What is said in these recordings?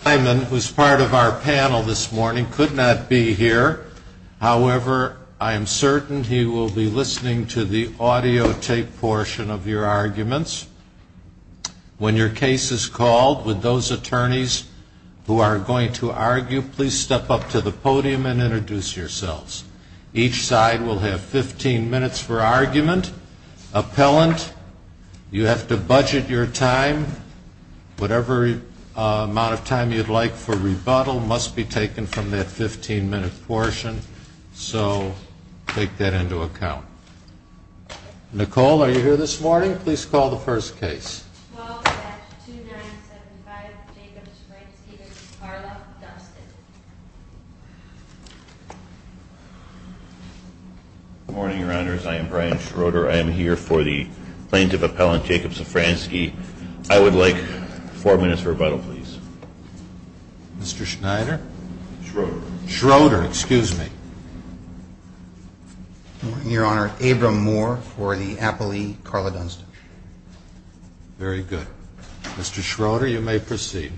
Simon, who is part of our panel this morning, could not be here, however, I am certain he will be listening to the audio tape portion of your arguments. When your case is called, with those attorneys who are going to argue, please step up to the podium and introduce yourselves. Each side will have 15 minutes for argument. Appellant, you have to budget your time. Whatever amount of time you'd like for rebuttal must be taken from that 15-minute portion, so take that into account. Nicole, are you here this morning? Please call the first case. 12-2-9-75, Jacob Szafranski v. Carla Dunston. Good morning, Your Honors. I am Brian Schroeder. I am here for the plaintiff appellant, Jacob Szafranski. I would like four minutes for rebuttal, please. Mr. Schneider? Schroeder. Schroeder, excuse me. Good morning, Your Honor. Abram Moore for the appellee, Carla Dunston. Very good. Mr. Schroeder, you may proceed.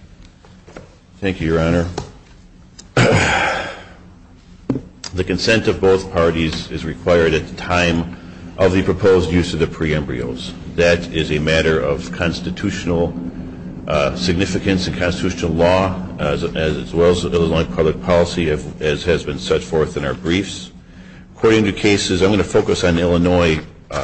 Thank you, Your Honor. The consent of both parties is required at the time of the proposed use of the pre-embryos. That is a matter of constitutional significance and constitutional law, as well as Illinois public policy, as has been set forth in our briefs. According to cases, I'm going to focus on Illinois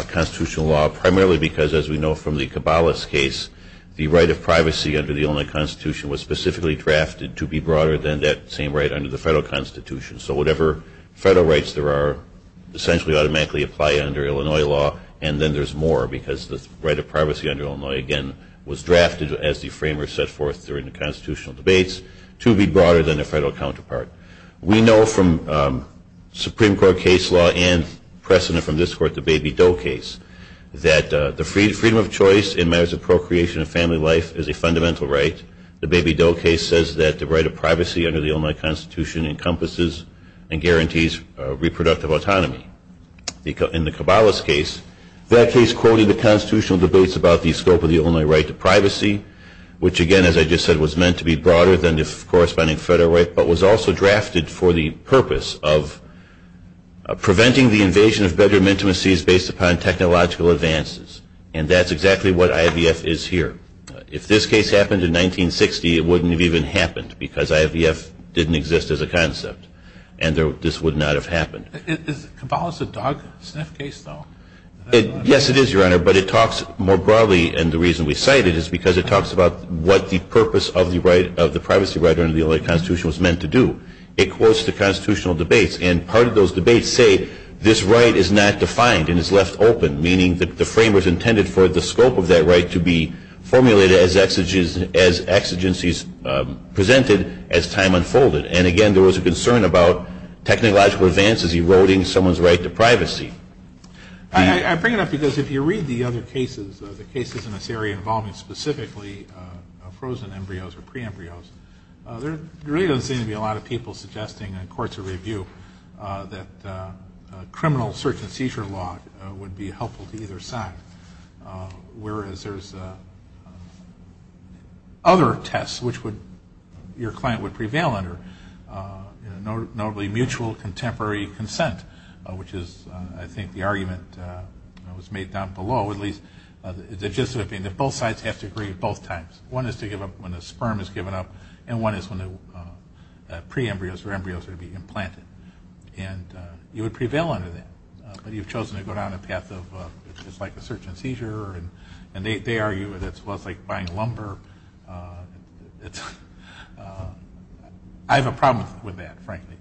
constitutional law primarily because, as we know from the Cabalas case, the right of privacy under the Illinois Constitution was specifically drafted to be broader than that same right under the federal Constitution. So whatever federal rights there are essentially automatically apply under Illinois law, and then there's more because the right of privacy under Illinois, again, was drafted as the framework set forth during the constitutional debates to be broader than the federal counterpart. We know from Supreme Court case law and precedent from this Court, the Baby Doe case, that the freedom of choice in matters of procreation and family life is a fundamental right. The Baby Doe case says that the right of privacy under the Illinois Constitution encompasses and guarantees reproductive autonomy. In the Cabalas case, that case quoted the constitutional debates about the scope of the Illinois right to privacy, which again, as I just said, was meant to be broader than the corresponding federal right, but was also drafted for the purpose of preventing the invasion of bedroom intimacies based upon technological advances. And that's exactly what IVF is here. If this case happened in 1960, it wouldn't have even happened because IVF didn't exist as a concept, and this would not have happened. Is Cabalas a dog sniff case, though? Yes, it is, Your Honor, but it talks more broadly, and the reason we cite it is because it talks about what the purpose of the privacy right under the Illinois Constitution was meant to do. It quotes the constitutional debates, and part of those debates say this right is not defined and is left open, meaning that the framers intended for the scope of that right to be formulated as exigencies presented as time unfolded. And again, there was a concern about technological advances eroding someone's right to privacy. I bring it up because if you read the other cases, the cases in this area involving specifically frozen embryos or pre-embryos, there really doesn't seem to be a lot of people suggesting in courts of review that criminal search and seizure law would be helpful to either side, whereas there's other tests which your client would prevail under, notably mutual contemporary consent, which is, I think, the argument that was made down below, at least the gist of it being that both sides have to agree at both times. One is to give up when the sperm is given up, and one is when the pre-embryos or embryos are to be implanted. And you would prevail under that, but you've chosen to go down a path of it's like a search and seizure, and they argue that it's less like buying lumber. I have a problem with that, frankly.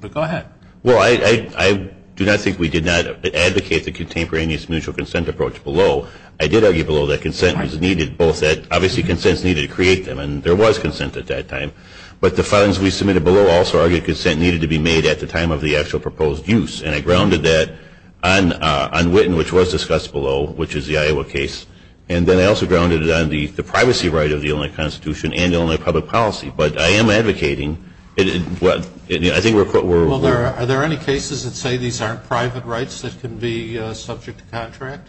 But go ahead. Well, I do not think we did not advocate the contemporaneous mutual consent approach below. I did argue below that consent was needed both at, obviously, consents needed to create them, and there was consent at that time, but the funds we submitted below also argued consent needed to be made at the time of the actual proposed use, and I grounded that on Witten, which was discussed below, which is the Iowa case, and then I also grounded it on the privacy right of the Illinois Constitution and Illinois public policy. But I am advocating. Are there any cases that say these aren't private rights that can be subject to contract?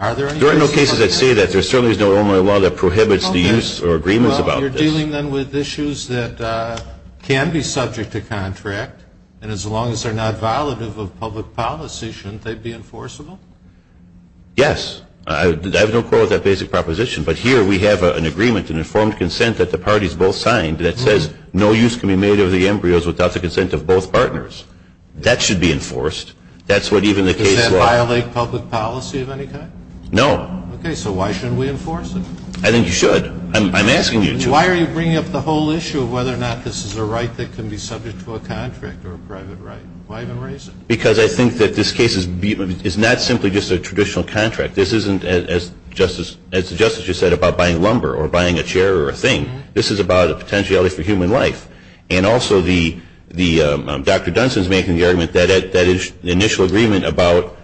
There are no cases that say that. There certainly is no Illinois law that prohibits the use or agreements about this. Well, you're dealing then with issues that can be subject to contract, and as long as they're not violative of public policy, shouldn't they be enforceable? Yes. I have no quarrel with that basic proposition, but here we have an agreement, an informed consent that the parties both signed that says no use can be made of the embryos without the consent of both partners. That should be enforced. Does that violate public policy of any kind? No. Okay. So why shouldn't we enforce it? I think you should. I'm asking you to. Why are you bringing up the whole issue of whether or not this is a right that can be subject to a contract or a private right? Why even raise it? Because I think that this case is not simply just a traditional contract. This isn't, as the Justice just said, about buying lumber or buying a chair or a thing. This is about a potentiality for human life, and also Dr. Dunson's making the argument that that initial agreement about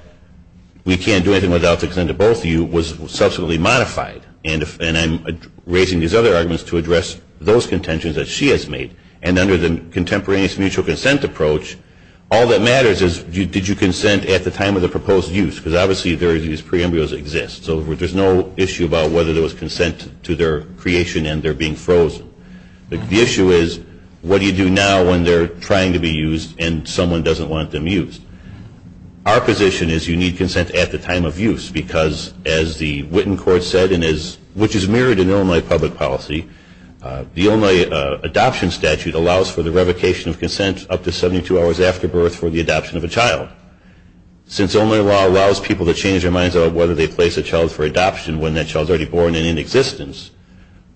we can't do anything without the consent of both of you was subsequently modified. And I'm raising these other arguments to address those contentions that she has made, and under the contemporaneous mutual consent approach, all that matters is did you consent at the time of the proposed use? Because obviously these pre-embryos exist, so there's no issue about whether there was consent to their creation and they're being frozen. The issue is what do you do now when they're trying to be used and someone doesn't want them used? Our position is you need consent at the time of use because, as the Witten court said, which is mirrored in Illinois public policy, the Illinois adoption statute allows for the revocation of consent up to 72 hours after birth for the adoption of a child. Since Illinois law allows people to change their minds about whether they place a child for adoption when that child is already born and in existence,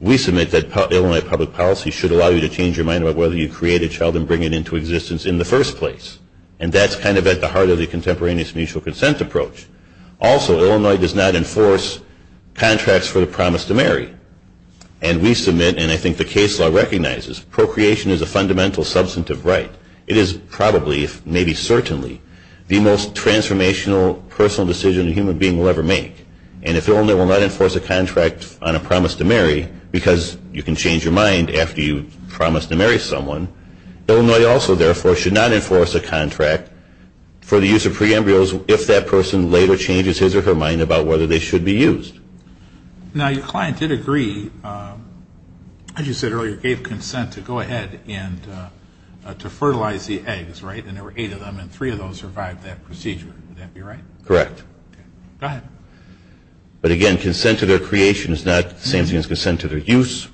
we submit that Illinois public policy should allow you to change your mind about whether you create a child and bring it into existence in the first place. And that's kind of at the heart of the contemporaneous mutual consent approach. Also, Illinois does not enforce contracts for the promise to marry. And we submit, and I think the case law recognizes, procreation is a fundamental substantive right. It is probably, if maybe certainly, the most transformational personal decision a human being will ever make. And if Illinois will not enforce a contract on a promise to marry because you can change your mind after you've promised to marry someone, Illinois also, therefore, should not enforce a contract for the use of pre-embryos if that person later changes his or her mind about whether they should be used. Now, your client did agree, as you said earlier, gave consent to go ahead and to fertilize the eggs, right? And there were eight of them, and three of those survived that procedure. Would that be right? Correct. Go ahead. But, again, consent to their creation is not the same thing as consent to their use.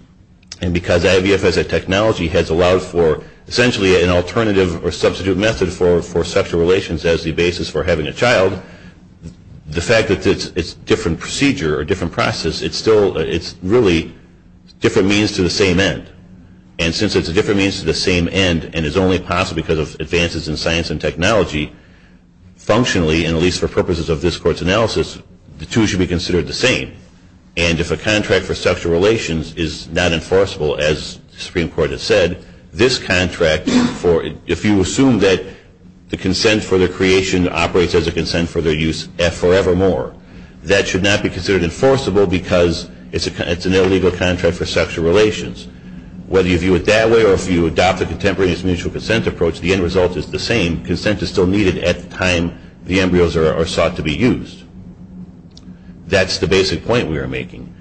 And because IVF as a technology has allowed for, essentially, an alternative or substitute method for sexual relations as the basis for having a child, the fact that it's a different procedure or different process, it's really different means to the same end. And since it's a different means to the same end and is only possible because of advances in science and technology, functionally, and at least for purposes of this Court's analysis, the two should be considered the same. And if a contract for sexual relations is not enforceable, as the Supreme Court has said, this contract, if you assume that the consent for their creation operates as a consent for their use forevermore, that should not be considered enforceable because it's an illegal contract for sexual relations. Whether you view it that way or if you adopt the contemporaneous mutual consent approach, the end result is the same. Consent is still needed at the time the embryos are sought to be used. That's the basic point we are making.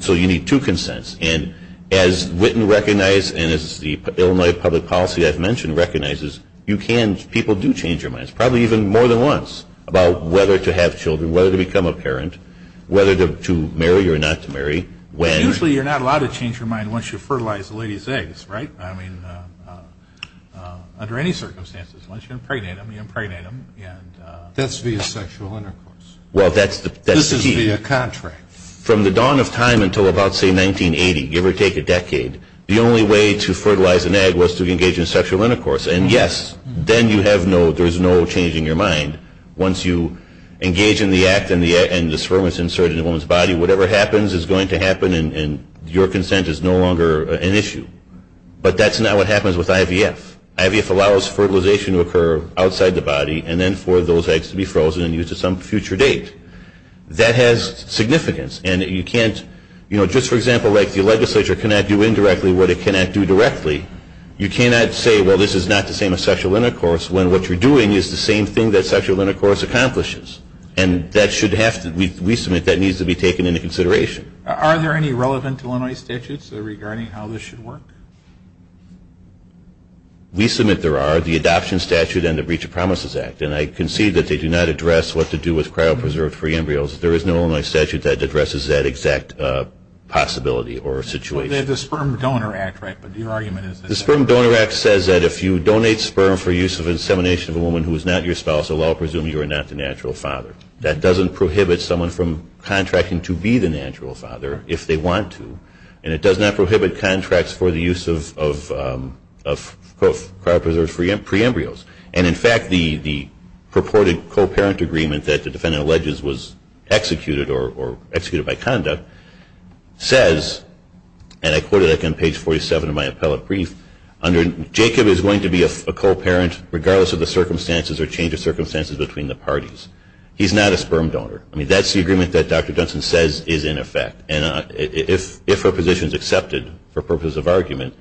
So you need two consents. And as Witten recognized and as the Illinois public policy I've mentioned recognizes, people do change their minds, probably even more than once, about whether to have children, whether to become a parent, whether to marry or not to marry. Usually you're not allowed to change your mind once you fertilize the lady's eggs, right? I mean, under any circumstances. Once you impregnate them, you impregnate them. That's via sexual intercourse. Well, that's the key. This is via contract. From the dawn of time until about, say, 1980, give or take a decade, the only way to fertilize an egg was to engage in sexual intercourse. And, yes, then you have no, there's no changing your mind. Once you engage in the act and the sperm is inserted in a woman's body, whatever happens is going to happen and your consent is no longer an issue. But that's not what happens with IVF. IVF allows fertilization to occur outside the body and then for those eggs to be frozen and used at some future date. That has significance. And you can't, you know, just for example, like the legislature cannot do indirectly what it cannot do directly. You cannot say, well, this is not the same as sexual intercourse, when what you're doing is the same thing that sexual intercourse accomplishes. And that should have to, we submit, that needs to be taken into consideration. Are there any relevant Illinois statutes regarding how this should work? We submit there are. The Adoption Statute and the Breach of Promises Act. And I concede that they do not address what to do with cryopreserved free embryos. There is no Illinois statute that addresses that exact possibility or situation. They have the Sperm Donor Act, right? But your argument is that. The Sperm Donor Act says that if you donate sperm for use of insemination of a woman who is not your spouse, well, I'll presume you are not the natural father. That doesn't prohibit someone from contracting to be the natural father if they want to. And it does not prohibit contracts for the use of cryopreserved free embryos. And in fact, the purported co-parent agreement that the defendant alleges was executed or executed by conduct says, and I quote it on page 47 of my appellate brief, Jacob is going to be a co-parent regardless of the circumstances or change of circumstances between the parties. He's not a sperm donor. I mean, that's the agreement that Dr. Dunson says is in effect. And if her position is accepted for purpose of argument,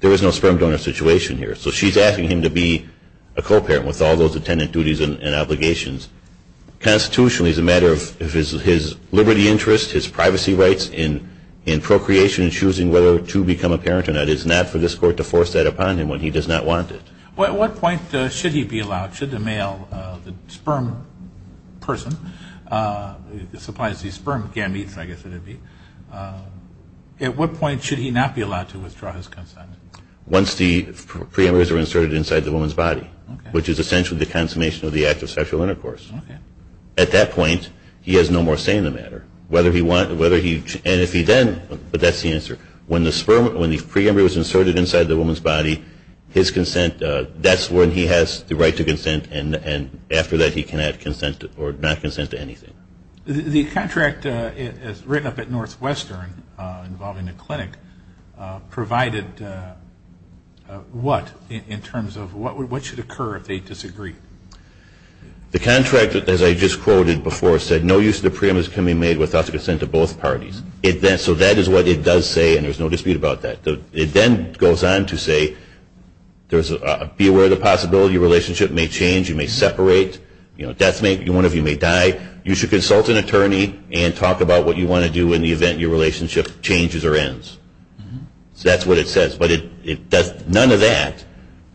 there is no sperm donor situation here. So she's asking him to be a co-parent with all those attendant duties and obligations. Constitutionally, it's a matter of his liberty interest, his privacy rights in procreation and choosing whether to become a parent or not. It's not for this Court to force that upon him when he does not want it. At what point should he be allowed, should the male, the sperm person, supplies the sperm gametes, I guess it would be, at what point should he not be allowed to withdraw his consent? Once the pre-embryos are inserted inside the woman's body, which is essentially the consummation of the act of sexual intercourse. At that point, he has no more say in the matter. Whether he wants, whether he, and if he then, but that's the answer. When the sperm, when the pre-embryo is inserted inside the woman's body, his consent, that's when he has the right to consent, and after that he can have consent or not consent to anything. The contract is written up at Northwestern involving the clinic provided what, in terms of what should occur if they disagree? The contract, as I just quoted before, said no use of the pre-embryos can be made without the consent of both parties. So that is what it does say, and there's no dispute about that. It then goes on to say, be aware of the possibility your relationship may change, you may separate, one of you may die, you should consult an attorney and talk about what you want to do in the event your relationship changes or ends. So that's what it says. But none of that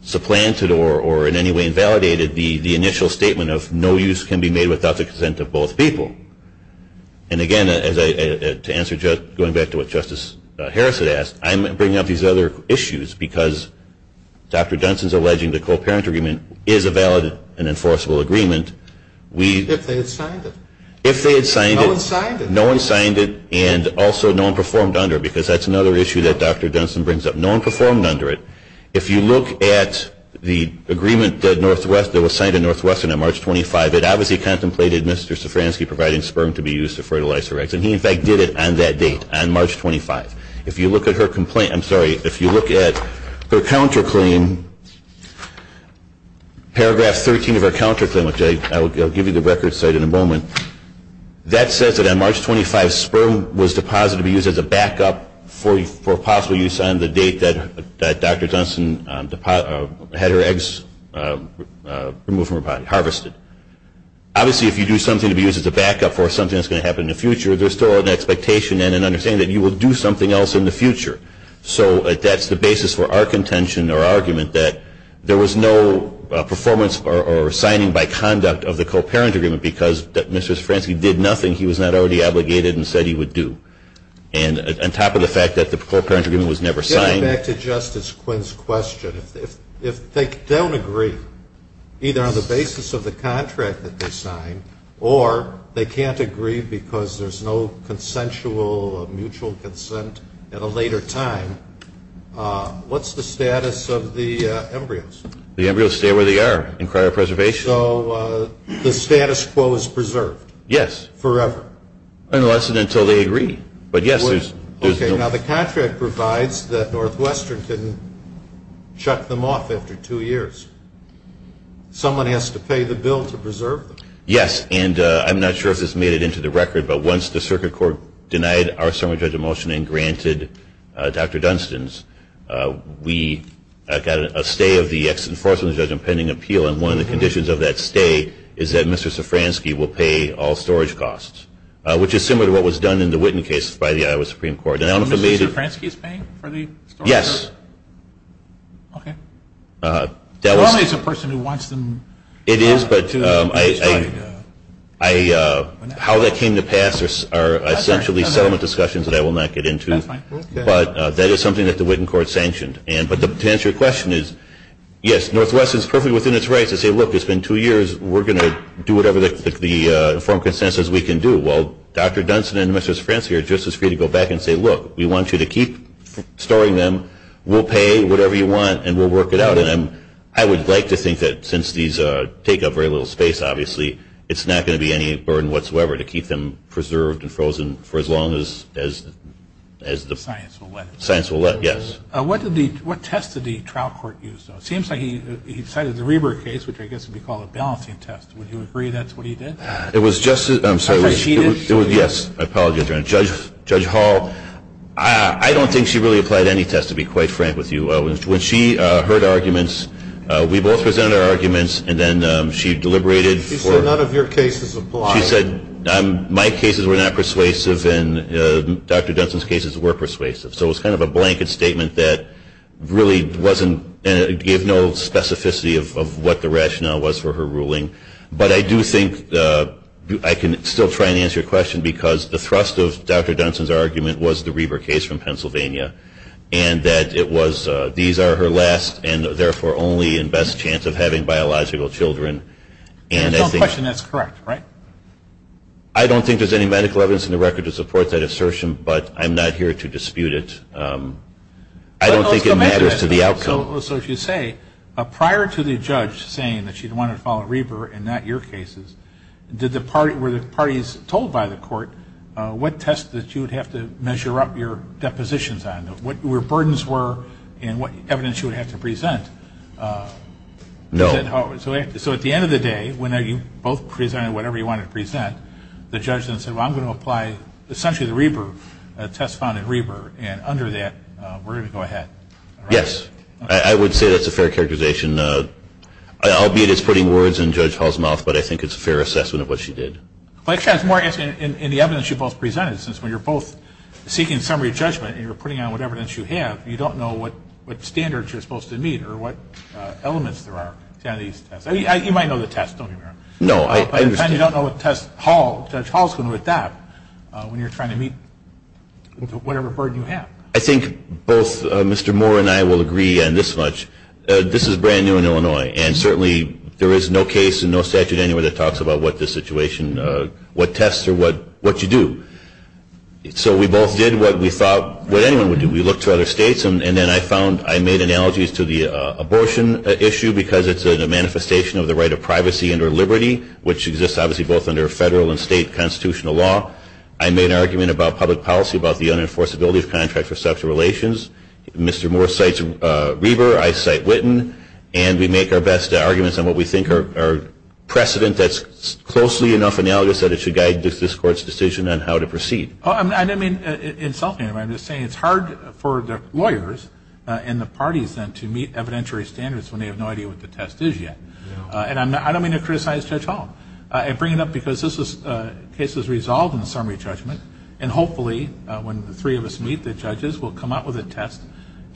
supplanted or in any way invalidated the initial statement of no use can be made without the consent of both people. And again, to answer, going back to what Justice Harris had asked, I'm bringing up these other issues because Dr. Dunson's alleging the co-parent agreement is a valid and enforceable agreement. If they had signed it. If they had signed it. No one signed it. No one signed it, and also no one performed under it, because that's another issue that Dr. Dunson brings up. No one performed under it. If you look at the agreement that was signed at Northwestern on March 25, it obviously contemplated Mr. Stefanski providing sperm to be used to fertilize her eggs, and he, in fact, did it on that date, on March 25. If you look at her complaint, I'm sorry, if you look at her counterclaim, paragraph 13 of her counterclaim, which I'll give you the record site in a moment, that says that on March 25 sperm was deposited to be used as a backup for possible use on the date that Dr. Dunson had her eggs removed from her body, harvested. Obviously, if you do something to be used as a backup for something that's going to happen in the future, there's still an expectation and an understanding that you will do something else in the future. So that's the basis for our contention or argument that there was no performance or signing by conduct of the co-parent agreement because Mr. Stefanski did nothing he was not already obligated and said he would do. And on top of the fact that the co-parent agreement was never signed. Getting back to Justice Quinn's question, if they don't agree, either on the basis of the contract that they signed, or they can't agree because there's no consensual or mutual consent at a later time, what's the status of the embryos? The embryos stay where they are in cryopreservation. So the status quo is preserved? Yes. Forever? Unless and until they agree. Okay, now the contract provides that Northwestern can shut them off after two years. Someone has to pay the bill to preserve them. Yes, and I'm not sure if this made it into the record, but once the circuit court denied our assembly judge a motion and granted Dr. Dunston's, we got a stay of the ex-enforcement judge on pending appeal, and one of the conditions of that stay is that Mr. Sofransky will pay all storage costs, which is similar to what was done in the Witten case by the Iowa Supreme Court. And I don't know if it made it. Mr. Sofransky is paying for the storage? Yes. Okay. Well, only as a person who wants them to be destroyed. How that came to pass are essentially settlement discussions that I will not get into. That's fine. But that is something that the Witten court sanctioned. But to answer your question is, yes, Northwestern is perfectly within its rights to say, look, it's been two years, we're going to do whatever the informed consensus we can do. Well, Dr. Dunston and Mr. Sofransky are just as free to go back and say, look, we want you to keep storing them, we'll pay whatever you want, and we'll work it out. And I would like to think that since these take up very little space, obviously, it's not going to be any burden whatsoever to keep them preserved and frozen for as long as the science will let. Yes. What tests did the trial court use, though? It seems like he cited the Reber case, which I guess would be called a balancing test. Would you agree that's what he did? It was just as ‑‑ I thought she did. Yes, I apologize. Judge Hall, I don't think she really applied any tests, to be quite frank with you. When she heard arguments, we both presented our arguments, and then she deliberated. She said none of your cases apply. She said my cases were not persuasive and Dr. Dunston's cases were persuasive. So it was kind of a blanket statement that really wasn't ‑‑ it gave no specificity of what the rationale was for her ruling. But I do think I can still try and answer your question, because the thrust of Dr. Dunston's argument was the Reber case from Pennsylvania, and that it was these are her last and, therefore, only and best chance of having biological children. And I think ‑‑ If that's the question, that's correct, right? I don't think there's any medical evidence in the record to support that assertion, but I'm not here to dispute it. I don't think it matters to the outcome. So if you say, prior to the judge saying that she wanted to follow Reber and not your cases, were the parties told by the court what test that you would have to measure up your depositions on, what your burdens were, and what evidence you would have to present? No. So at the end of the day, when you both presented whatever you wanted to present, the judge then said, well, I'm going to apply essentially the Reber test found in Reber, and under that, we're going to go ahead. Yes. I would say that's a fair characterization, albeit it's putting words in Judge Hall's mouth, but I think it's a fair assessment of what she did. Well, it's more, I guess, in the evidence you both presented, since when you're both seeking summary judgment and you're putting on whatever evidence you have, you don't know what standards you're supposed to meet or what elements there are. You might know the test, don't you? No, I understand. But you don't know what test Judge Hall is going to adopt when you're trying to meet whatever burden you have. I think both Mr. Moore and I will agree on this much. This is brand new in Illinois, and certainly there is no case and no statute anywhere that talks about what this situation, what tests or what you do. So we both did what we thought anyone would do. We looked to other states, and then I found I made analogies to the abortion issue because it's a manifestation of the right of privacy under liberty, which exists obviously both under federal and state constitutional law. I made an argument about public policy about the unenforceability of contracts for sexual relations. Mr. Moore cites Reber. I cite Witten. And we make our best arguments on what we think are precedent that's closely enough analogous that it should guide this Court's decision on how to proceed. I didn't mean to insult him. I'm just saying it's hard for the lawyers and the parties then to meet evidentiary standards when they have no idea what the test is yet. And I don't mean to criticize Judge Hall. I bring it up because this case is resolved in the summary judgment, and hopefully when the three of us meet, the judges will come out with a test.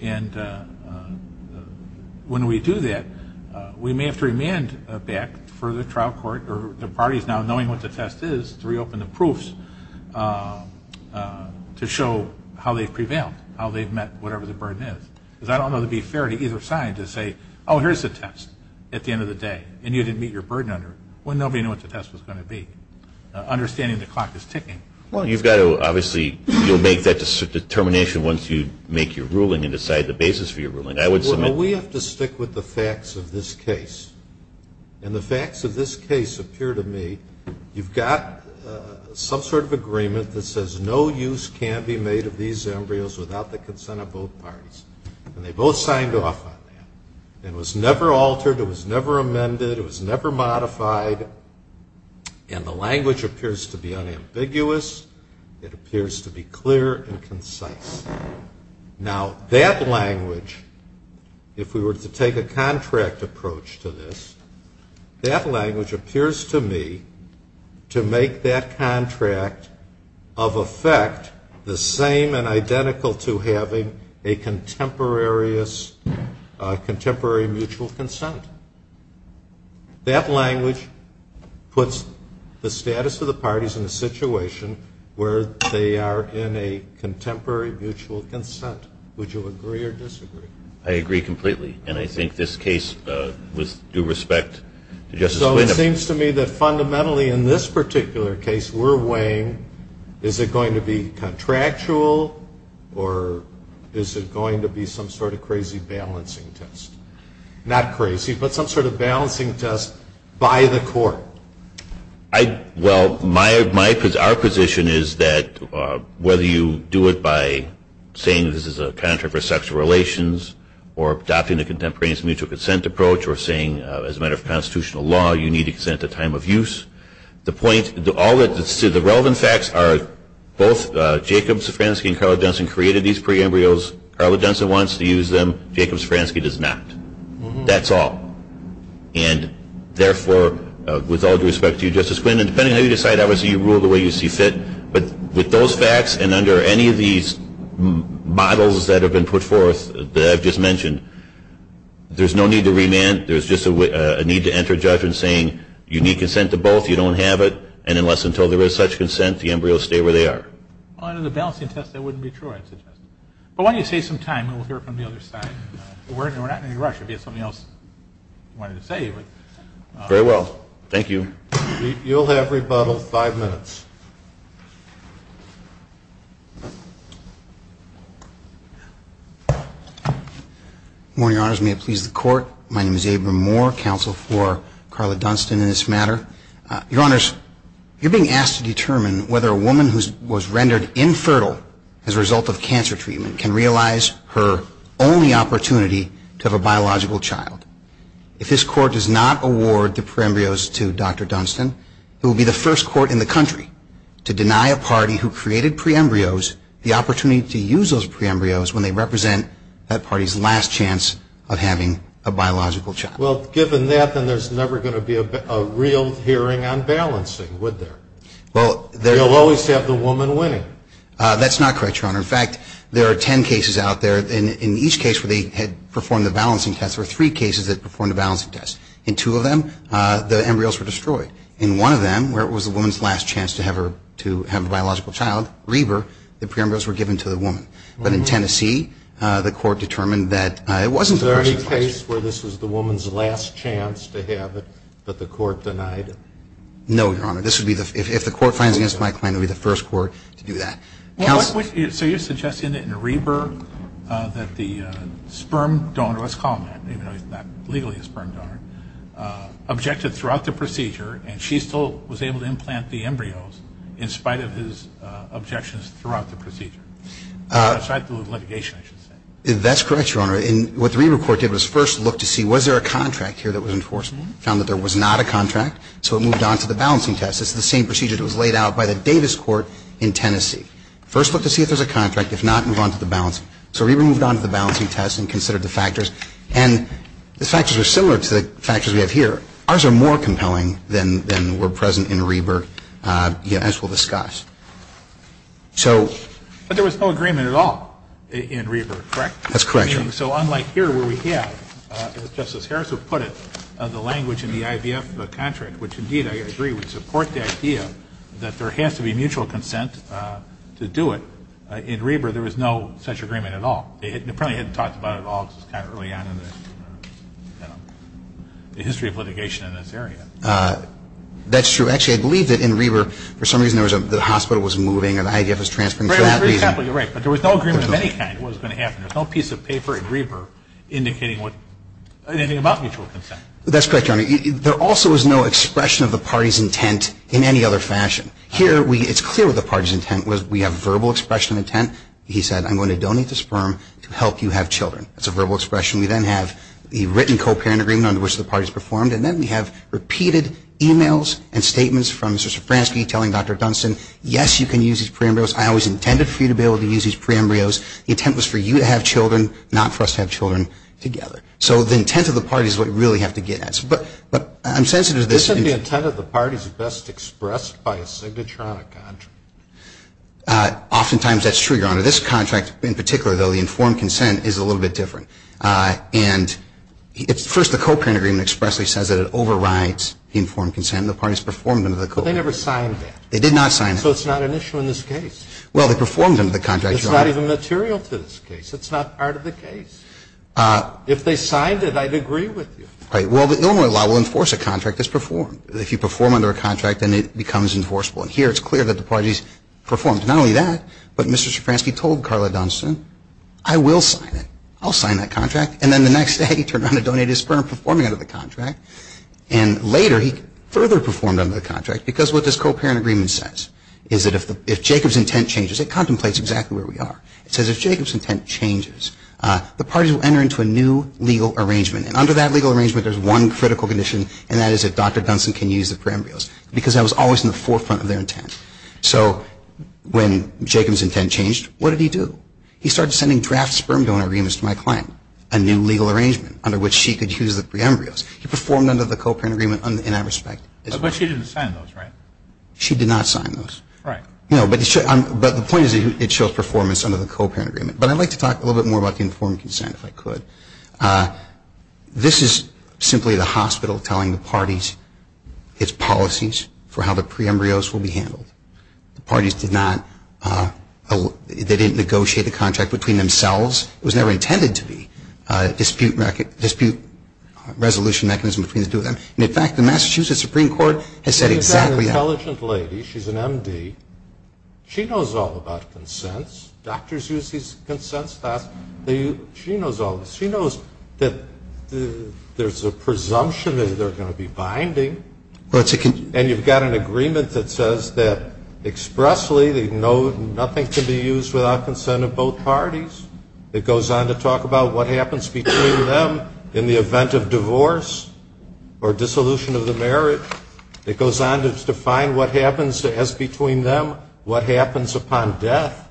And when we do that, we may have to remand back for the trial court or the parties now knowing what the test is to reopen the proofs to show how they've prevailed, how they've met whatever the burden is. Because I don't know that it would be fair to either side to say, oh, here's the test at the end of the day, and you didn't meet your burden under it when nobody knew what the test was going to be, understanding the clock is ticking. Well, you've got to obviously make that determination once you make your ruling and decide the basis for your ruling. We have to stick with the facts of this case. And the facts of this case appear to me, you've got some sort of agreement that says no use can be made of these embryos without the consent of both parties. And they both signed off on that. It was never altered. It was never amended. It was never modified. And the language appears to be unambiguous. It appears to be clear and concise. Now, that language, if we were to take a contract approach to this, that language appears to me to make that contract of effect the same and identical to having a contemporary mutual consent. That language puts the status of the parties in a situation where they are in a contemporary mutual consent. Would you agree or disagree? I agree completely. And I think this case, with due respect to Justice Glenn. So it seems to me that fundamentally in this particular case we're weighing, is it going to be contractual or is it going to be some sort of crazy balancing test? Not crazy, but some sort of balancing test by the court. Well, our position is that whether you do it by saying this is a contract for sexual relations or adopting the contemporaneous mutual consent approach or saying as a matter of constitutional law you need to consent at time of use, the relevant facts are both Jacob Safranski and Carla Johnson created these pre-embryos. Carla Johnson wants to use them. Jacob Safranski does not. That's all. And therefore, with all due respect to you, Justice Glenn, and depending on how you decide, obviously you rule the way you see fit, but with those facts and under any of these models that have been put forth that I've just mentioned, there's no need to remand. There's just a need to enter judgment saying you need consent to both, you don't have it, and unless until there is such consent the embryos stay where they are. Well, under the balancing test that wouldn't be true, I'd suggest. But why don't you save some time and we'll hear from the other side. We're not in any rush. Maybe there's something else you wanted to say. Very well. Thank you. You'll have rebuttal, five minutes. Good morning, Your Honors. May it please the Court. My name is Abraham Moore, counsel for Carla Dunstan in this matter. Your Honors, you're being asked to determine whether a woman who was rendered infertile as a result of cancer treatment can realize her only opportunity to have a biological child. If this Court does not award the pre-embryos to Dr. Dunstan, it will be the first Court in the country to deny a party who created pre-embryos the opportunity to use those pre-embryos when they represent that party's last chance of having a biological child. Well, given that, then there's never going to be a real hearing on balancing, would there? You'll always have the woman winning. That's not correct, Your Honor. In fact, there are ten cases out there. In each case where they had performed the balancing test, there were three cases that performed the balancing test. In two of them, the embryos were destroyed. In one of them, where it was the woman's last chance to have a biological child, Reber, the pre-embryos were given to the woman. But in Tennessee, the Court determined that it wasn't the first case. Is there any case where this was the woman's last chance to have it, but the Court denied it? No, Your Honor. If the Court finds it against my claim, it would be the first Court to do that. So you're suggesting that Reber, that the sperm donor, let's call him that, even though he's not legally a sperm donor, objected throughout the procedure, and she still was able to implant the embryos in spite of his objections throughout the procedure? In spite of the litigation, I should say. That's correct, Your Honor. What the Reber Court did was first look to see was there a contract here that was enforceable? It found that there was not a contract, so it moved on to the balancing test. It's the same procedure that was laid out by the Davis Court in Tennessee. First look to see if there's a contract. If not, move on to the balancing. So Reber moved on to the balancing test and considered the factors. And the factors were similar to the factors we have here. Ours are more compelling than were present in Reber, as we'll discuss. So — But there was no agreement at all in Reber, correct? That's correct, Your Honor. So unlike here where we have, as Justice Harris has put it, the language in the IVF contract, which, indeed, I agree would support the idea that there has to be mutual consent to do it, in Reber there was no such agreement at all. They probably hadn't talked about it at all because it was kind of early on in the history of litigation in this area. That's true. Actually, I believe that in Reber, for some reason, the hospital was moving and the IVF was transferring. Right. But there was no agreement of any kind of what was going to happen. There's no piece of paper in Reber indicating anything about mutual consent. That's correct, Your Honor. There also was no expression of the party's intent in any other fashion. Here, it's clear what the party's intent was. We have verbal expression of intent. He said, I'm going to donate the sperm to help you have children. That's a verbal expression. We then have the written co-parent agreement under which the party's performed. And then we have repeated e-mails and statements from Mr. Szafranski telling Dr. Dunston, yes, you can use his pre-embryos. I always intended for you to be able to use his pre-embryos. The intent was for you to have children, not for us to have children together. So the intent of the party is what you really have to get at. But I'm sensitive to this. Isn't the intent of the parties best expressed by a signatronic contract? Oftentimes, that's true, Your Honor. This contract, in particular, though, the informed consent is a little bit different. And first, the co-parent agreement expressly says that it overrides the informed consent. The parties performed under the co-parent. But they never signed that. They did not sign that. So it's not an issue in this case. Well, they performed under the contract, Your Honor. But it's not even material to this case. It's not part of the case. If they signed it, I'd agree with you. Right. Well, the Illinois law will enforce a contract that's performed. If you perform under a contract, then it becomes enforceable. And here, it's clear that the parties performed not only that, but Mr. Szafranski told Carla Dunston, I will sign it. I'll sign that contract. And then the next day, he turned around and donated his sperm, performing under the contract. And later, he further performed under the contract because what this co-parent agreement says is that if Jacob's intent changes, it contemplates exactly where we are. It says if Jacob's intent changes, the parties will enter into a new legal arrangement. And under that legal arrangement, there's one critical condition, and that is if Dr. Dunston can use the pre-embryos because that was always in the forefront of their intent. So when Jacob's intent changed, what did he do? He started sending draft sperm donor agreements to my client, a new legal arrangement under which she could use the pre-embryos. He performed under the co-parent agreement in that respect. But she didn't sign those, right? She did not sign those. Right. No, but the point is it shows performance under the co-parent agreement. But I'd like to talk a little bit more about the informed consent, if I could. This is simply the hospital telling the parties its policies for how the pre-embryos will be handled. The parties did not, they didn't negotiate the contract between themselves. It was never intended to be a dispute resolution mechanism between the two of them. And, in fact, the Massachusetts Supreme Court has said exactly that. She's an intelligent lady. She's an M.D. She knows all about consents. Doctors use these consents. She knows all this. She knows that there's a presumption that they're going to be binding. And you've got an agreement that says that expressly they know nothing can be used without consent of both parties. It goes on to talk about what happens between them in the event of divorce or dissolution of the marriage. It goes on to define what happens as between them, what happens upon death.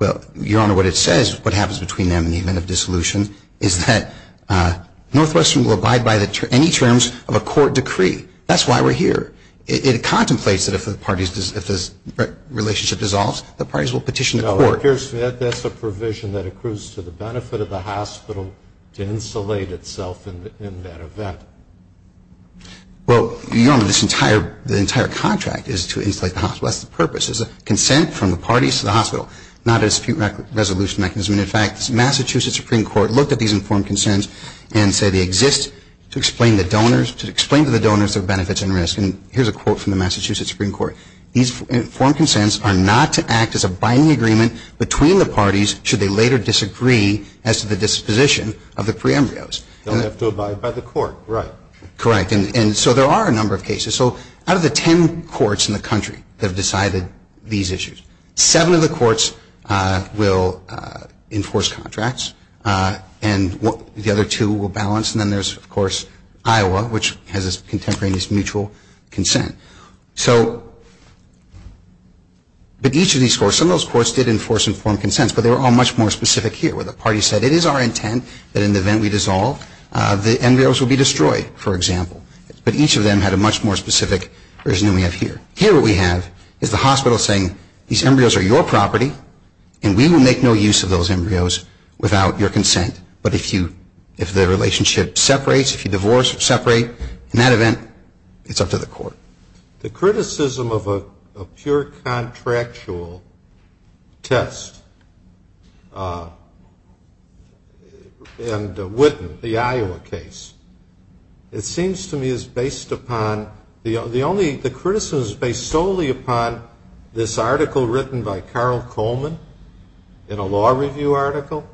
Well, Your Honor, what it says, what happens between them in the event of dissolution, is that Northwestern will abide by any terms of a court decree. That's why we're here. It contemplates that if the parties, if this relationship dissolves, the parties will petition the court. Now, that's a provision that accrues to the benefit of the hospital to insulate itself in that event. Well, Your Honor, this entire contract is to insulate the hospital. That's the purpose. It's a consent from the parties to the hospital, not a dispute resolution mechanism. And, in fact, the Massachusetts Supreme Court looked at these informed consents and said they exist to explain to the donors their benefits and risks. And here's a quote from the Massachusetts Supreme Court. These informed consents are not to act as a binding agreement between the parties should they later disagree as to the disposition of the pre-embryos. They'll have to abide by the court, right. Correct. And so there are a number of cases. So out of the ten courts in the country that have decided these issues, seven of the courts will enforce contracts and the other two will balance. And then there's, of course, Iowa, which has a contemporaneous mutual consent. But each of these courts, some of those courts did enforce informed consents, but they were all much more specific here, where the parties said it is our intent that in the event we dissolve, the embryos will be destroyed, for example. But each of them had a much more specific version than we have here. Here what we have is the hospital saying these embryos are your property and we will make no use of those embryos without your consent. But if the relationship separates, if you divorce or separate, in that event, it's up to the court. The criticism of a pure contractual test and Witten, the Iowa case, it seems to me is based upon the only, the criticism is based solely upon this article written by Carl Coleman in a law review article.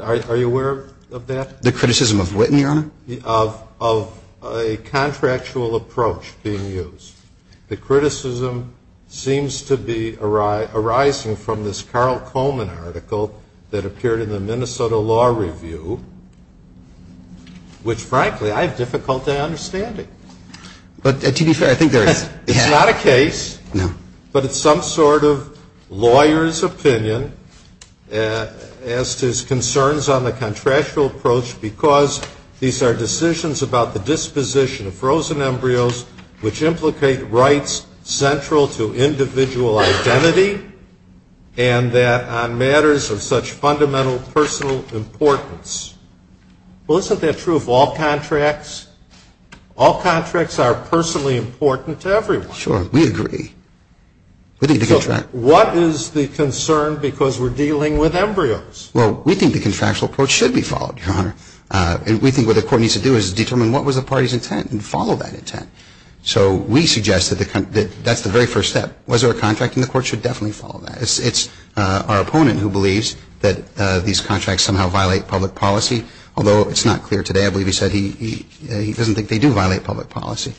Are you aware of that? The criticism of Witten, Your Honor? Of a contractual approach being used. The criticism seems to be arising from this Carl Coleman article that appeared in the Minnesota Law Review, which frankly I have difficulty understanding. But to be fair, I think there is. It's not a case. No. But it's some sort of lawyer's opinion as to his concerns on the contractual approach because these are decisions about the disposition of frozen embryos which implicate rights central to individual identity and that on matters of such fundamental personal importance. Well, isn't that true of all contracts? All contracts are personally important to everyone. Sure. We agree. So what is the concern because we're dealing with embryos? Well, Your Honor, we think what the Court needs to do is determine what was the party's intent and follow that intent. So we suggest that that's the very first step. Was there a contract? And the Court should definitely follow that. It's our opponent who believes that these contracts somehow violate public policy, although it's not clear today. I believe he said he doesn't think they do violate public policy.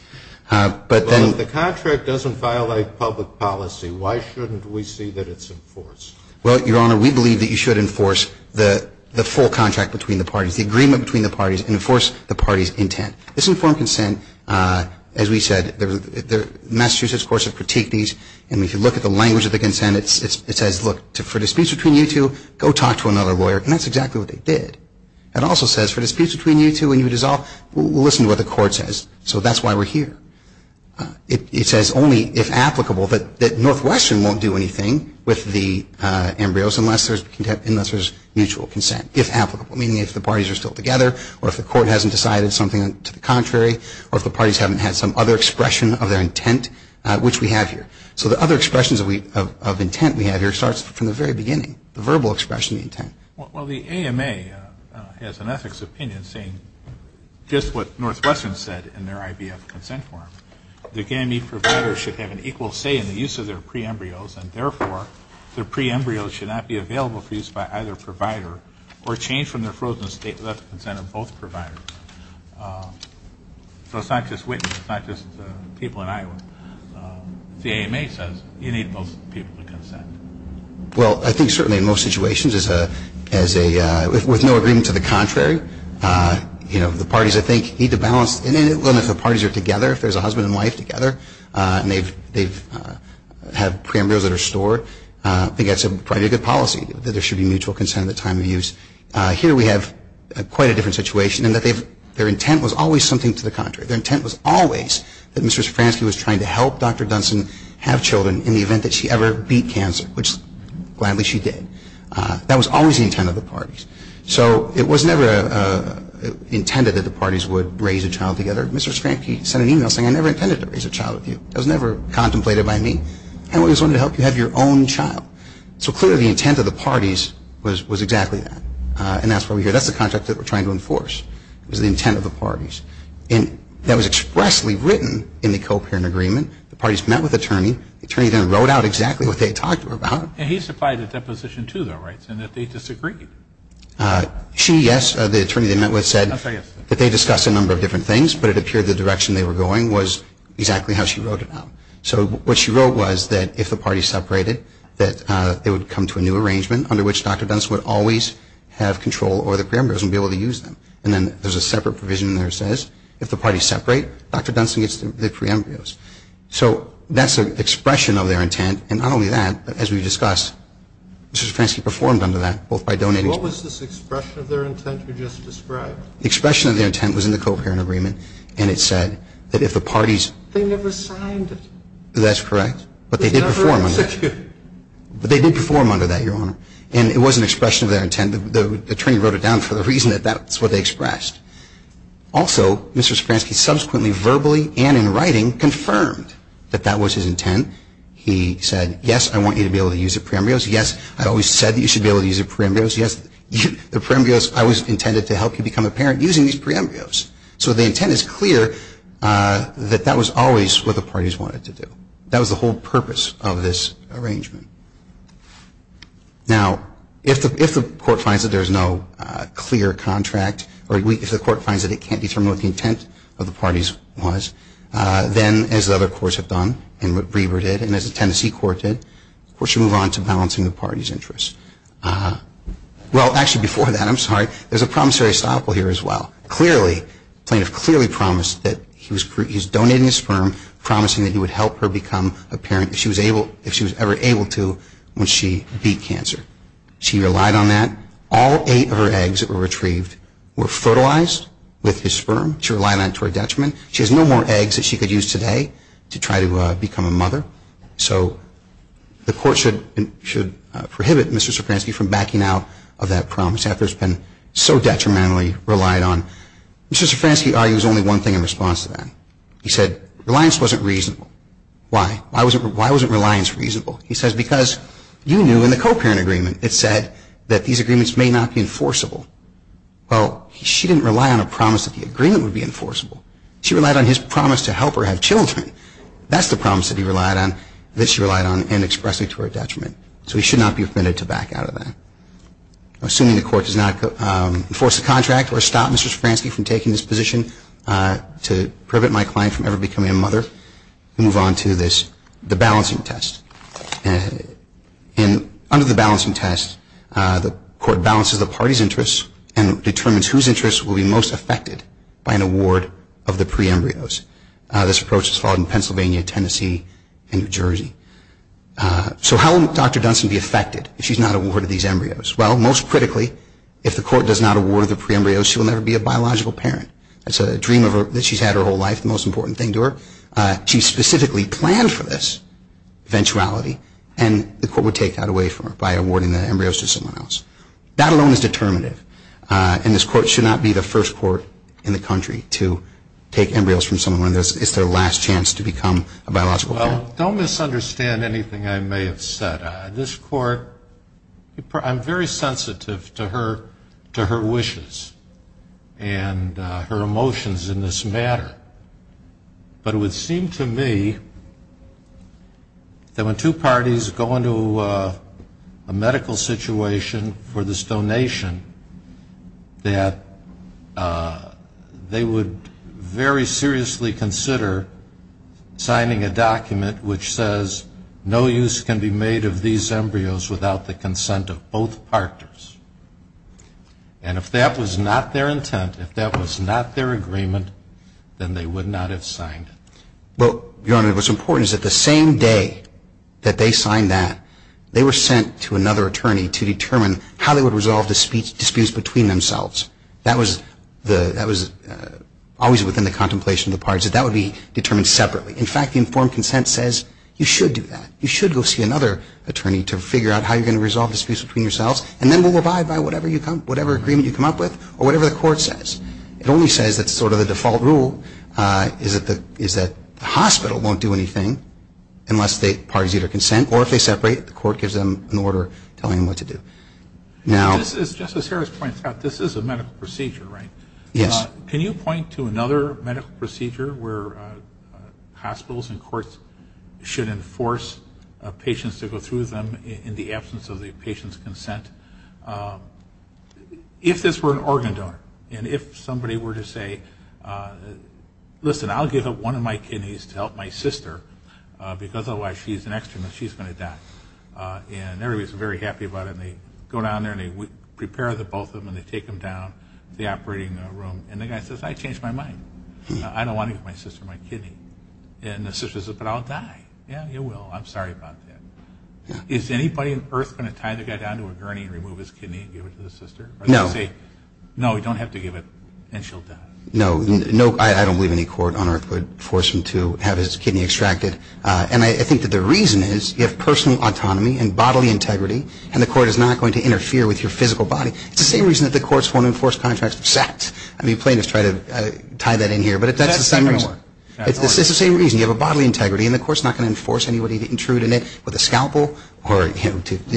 But then the contract doesn't violate public policy, why shouldn't we see that it's enforced? Well, Your Honor, we believe that you should enforce the full contract between the parties, the agreement between the parties, and enforce the party's intent. This informed consent, as we said, Massachusetts courts have critiqued these. And if you look at the language of the consent, it says, look, for disputes between you two, go talk to another lawyer. And that's exactly what they did. It also says for disputes between you two and you dissolve, listen to what the Court says. So that's why we're here. It says only if applicable that Northwestern won't do anything with the embryos unless there's mutual consent. If applicable, meaning if the parties are still together or if the Court hasn't decided something to the contrary or if the parties haven't had some other expression of their intent, which we have here. So the other expressions of intent we have here starts from the very beginning, the verbal expression of intent. Well, the AMA has an ethics opinion saying just what Northwestern said in their IVF consent form. The GAMI provider should have an equal say in the use of their pre-embryos, and therefore their pre-embryos should not be available for use by either provider or changed from their frozen state of consent of both providers. So it's not just Whitman. It's not just people in Iowa. The AMA says you need both people to consent. Well, I think certainly in most situations, with no agreement to the contrary, the parties, I think, need to balance. And if the parties are together, if there's a husband and wife together, and they have pre-embryos that are stored, I think that's probably a good policy, that there should be mutual consent at the time of use. Here we have quite a different situation in that their intent was always something to the contrary. Their intent was always that Mr. Stransky was trying to help Dr. Dunson have children in the event that she ever beat cancer, which gladly she did. That was always the intent of the parties. So it was never intended that the parties would raise a child together. Mr. Stransky sent an e-mail saying, I never intended to raise a child with you. That was never contemplated by me. I always wanted to help you have your own child. So clearly the intent of the parties was exactly that. And that's what we hear. That's the contract that we're trying to enforce is the intent of the parties. And that was expressly written in the co-parent agreement. The parties met with the attorney. The attorney then wrote out exactly what they had talked about. And he supplied a deposition to their rights and that they disagreed. She, yes. The attorney they met with said that they discussed a number of different things, but it appeared the direction they were going was exactly how she wrote it out. So what she wrote was that if the parties separated, that they would come to a new arrangement under which Dr. Dunson would always have control over the pre-embryos and be able to use them. And then there's a separate provision in there that says if the parties separate, Dr. Dunson gets the pre-embryos. So that's an expression of their intent. And not only that, but as we discussed, Mr. Stransky performed under that both by donating. What was this expression of their intent you just described? The expression of their intent was in the co-parent agreement. And it said that if the parties. They never signed it. That's correct. But they did perform under that. They never executed it. But they did perform under that, Your Honor. And it was an expression of their intent. And the attorney wrote it down for the reason that that's what they expressed. Also, Mr. Stransky subsequently verbally and in writing confirmed that that was his intent. He said, yes, I want you to be able to use the pre-embryos. Yes, I always said that you should be able to use the pre-embryos. Yes, the pre-embryos, I was intended to help you become a parent using these pre-embryos. So the intent is clear that that was always what the parties wanted to do. That was the whole purpose of this arrangement. Now, if the court finds that there is no clear contract, or if the court finds that it can't determine what the intent of the parties was, then, as the other courts have done, and McBriever did, and as the Tennessee court did, of course, you move on to balancing the parties' interests. Well, actually, before that, I'm sorry, there's a promissory estoppel here as well. Clearly, the plaintiff clearly promised that he was donating his sperm, promising that he would help her become a parent if she was ever able to when she beat cancer. She relied on that. All eight of her eggs that were retrieved were fertilized with his sperm. She relied on it to her detriment. She has no more eggs that she could use today to try to become a mother. So the court should prohibit Mr. Sofransky from backing out of that promise after it's been so detrimentally relied on. Mr. Sofransky argues only one thing in response to that. He said reliance wasn't reasonable. Why? Why wasn't reliance reasonable? He says because you knew in the co-parent agreement it said that these agreements may not be enforceable. Well, she didn't rely on a promise that the agreement would be enforceable. She relied on his promise to help her have children. That's the promise that he relied on, that she relied on, and expressed it to her detriment. So he should not be permitted to back out of that. Assuming the court does not enforce the contract or stop Mr. Sofransky from taking this position to prevent my client from ever becoming a mother, we move on to the balancing test. Under the balancing test, the court balances the party's interests and determines whose interests will be most affected by an award of the pre-embryos. This approach is followed in Pennsylvania, Tennessee, and New Jersey. So how will Dr. Dunstan be affected if she's not awarded these embryos? Well, most critically, if the court does not award the pre-embryos, she will never be a biological parent. It's a dream that she's had her whole life, the most important thing to her. She specifically planned for this eventuality, and the court would take that away from her by awarding the embryos to someone else. That alone is determinative, and this court should not be the first court in the country to take embryos from someone when it's their last chance to become a biological parent. Well, don't misunderstand anything I may have said. This court, I'm very sensitive to her wishes and her emotions in this matter, but it would seem to me that when two parties go into a medical situation for this donation, that they would very seriously consider signing a document which says, no use can be made of these embryos without the consent of both partners. And if that was not their intent, if that was not their agreement, then they would not have signed it. Well, Your Honor, what's important is that the same day that they signed that, they were sent to another attorney to determine how they would resolve the disputes between themselves. That was always within the contemplation of the parties. That would be determined separately. In fact, the informed consent says, you should do that. You should go see another attorney to figure out how you're going to resolve the disputes between yourselves, and then we'll abide by whatever agreement you come up with or whatever the court says. It only says that sort of the default rule is that the hospital won't do anything unless the parties either consent, or if they separate, the court gives them an order telling them what to do. Now as Justice Harris points out, this is a medical procedure, right? Yes. Can you point to another medical procedure where hospitals and courts should enforce patients to go through them in the absence of the patient's consent? If this were an organ donor and if somebody were to say, listen, I'll give up one of my kidneys to help my sister because otherwise she's an extra and she's going to die, and everybody's very happy about it, and they go down there and they prepare the both of them and they take them down to the operating room, and the guy says, I changed my mind. I don't want to give my sister my kidney. And the sister says, but I'll die. Yeah, you will. I'm sorry about that. Is anybody on earth going to tie the guy down to a gurney and remove his kidney and give it to the sister? No. Or they'll say, no, you don't have to give it, and she'll die. No. I don't believe any court on earth would force him to have his kidney extracted. And I think that the reason is you have personal autonomy and bodily integrity, and the court is not going to interfere with your physical body. It's the same reason that the courts won't enforce contracts of sex. I mean, plaintiffs try to tie that in here, but that's the same reason. It's the same reason. You have a bodily integrity, and the court's not going to enforce anybody to intrude in it with a scalpel or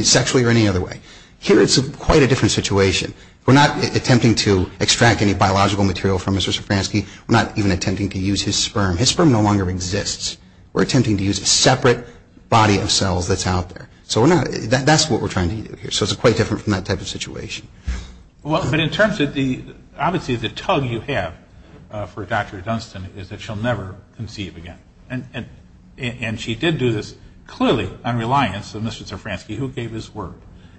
sexually or any other way. Here it's quite a different situation. We're not attempting to extract any biological material from Mr. Szafranski. We're not even attempting to use his sperm. His sperm no longer exists. We're attempting to use a separate body of cells that's out there. So that's what we're trying to do here. So it's quite different from that type of situation. But in terms of the – obviously the tug you have for Dr. Dunstan is that she'll never conceive again. And she did do this clearly on reliance on Mr. Szafranski, who gave his word.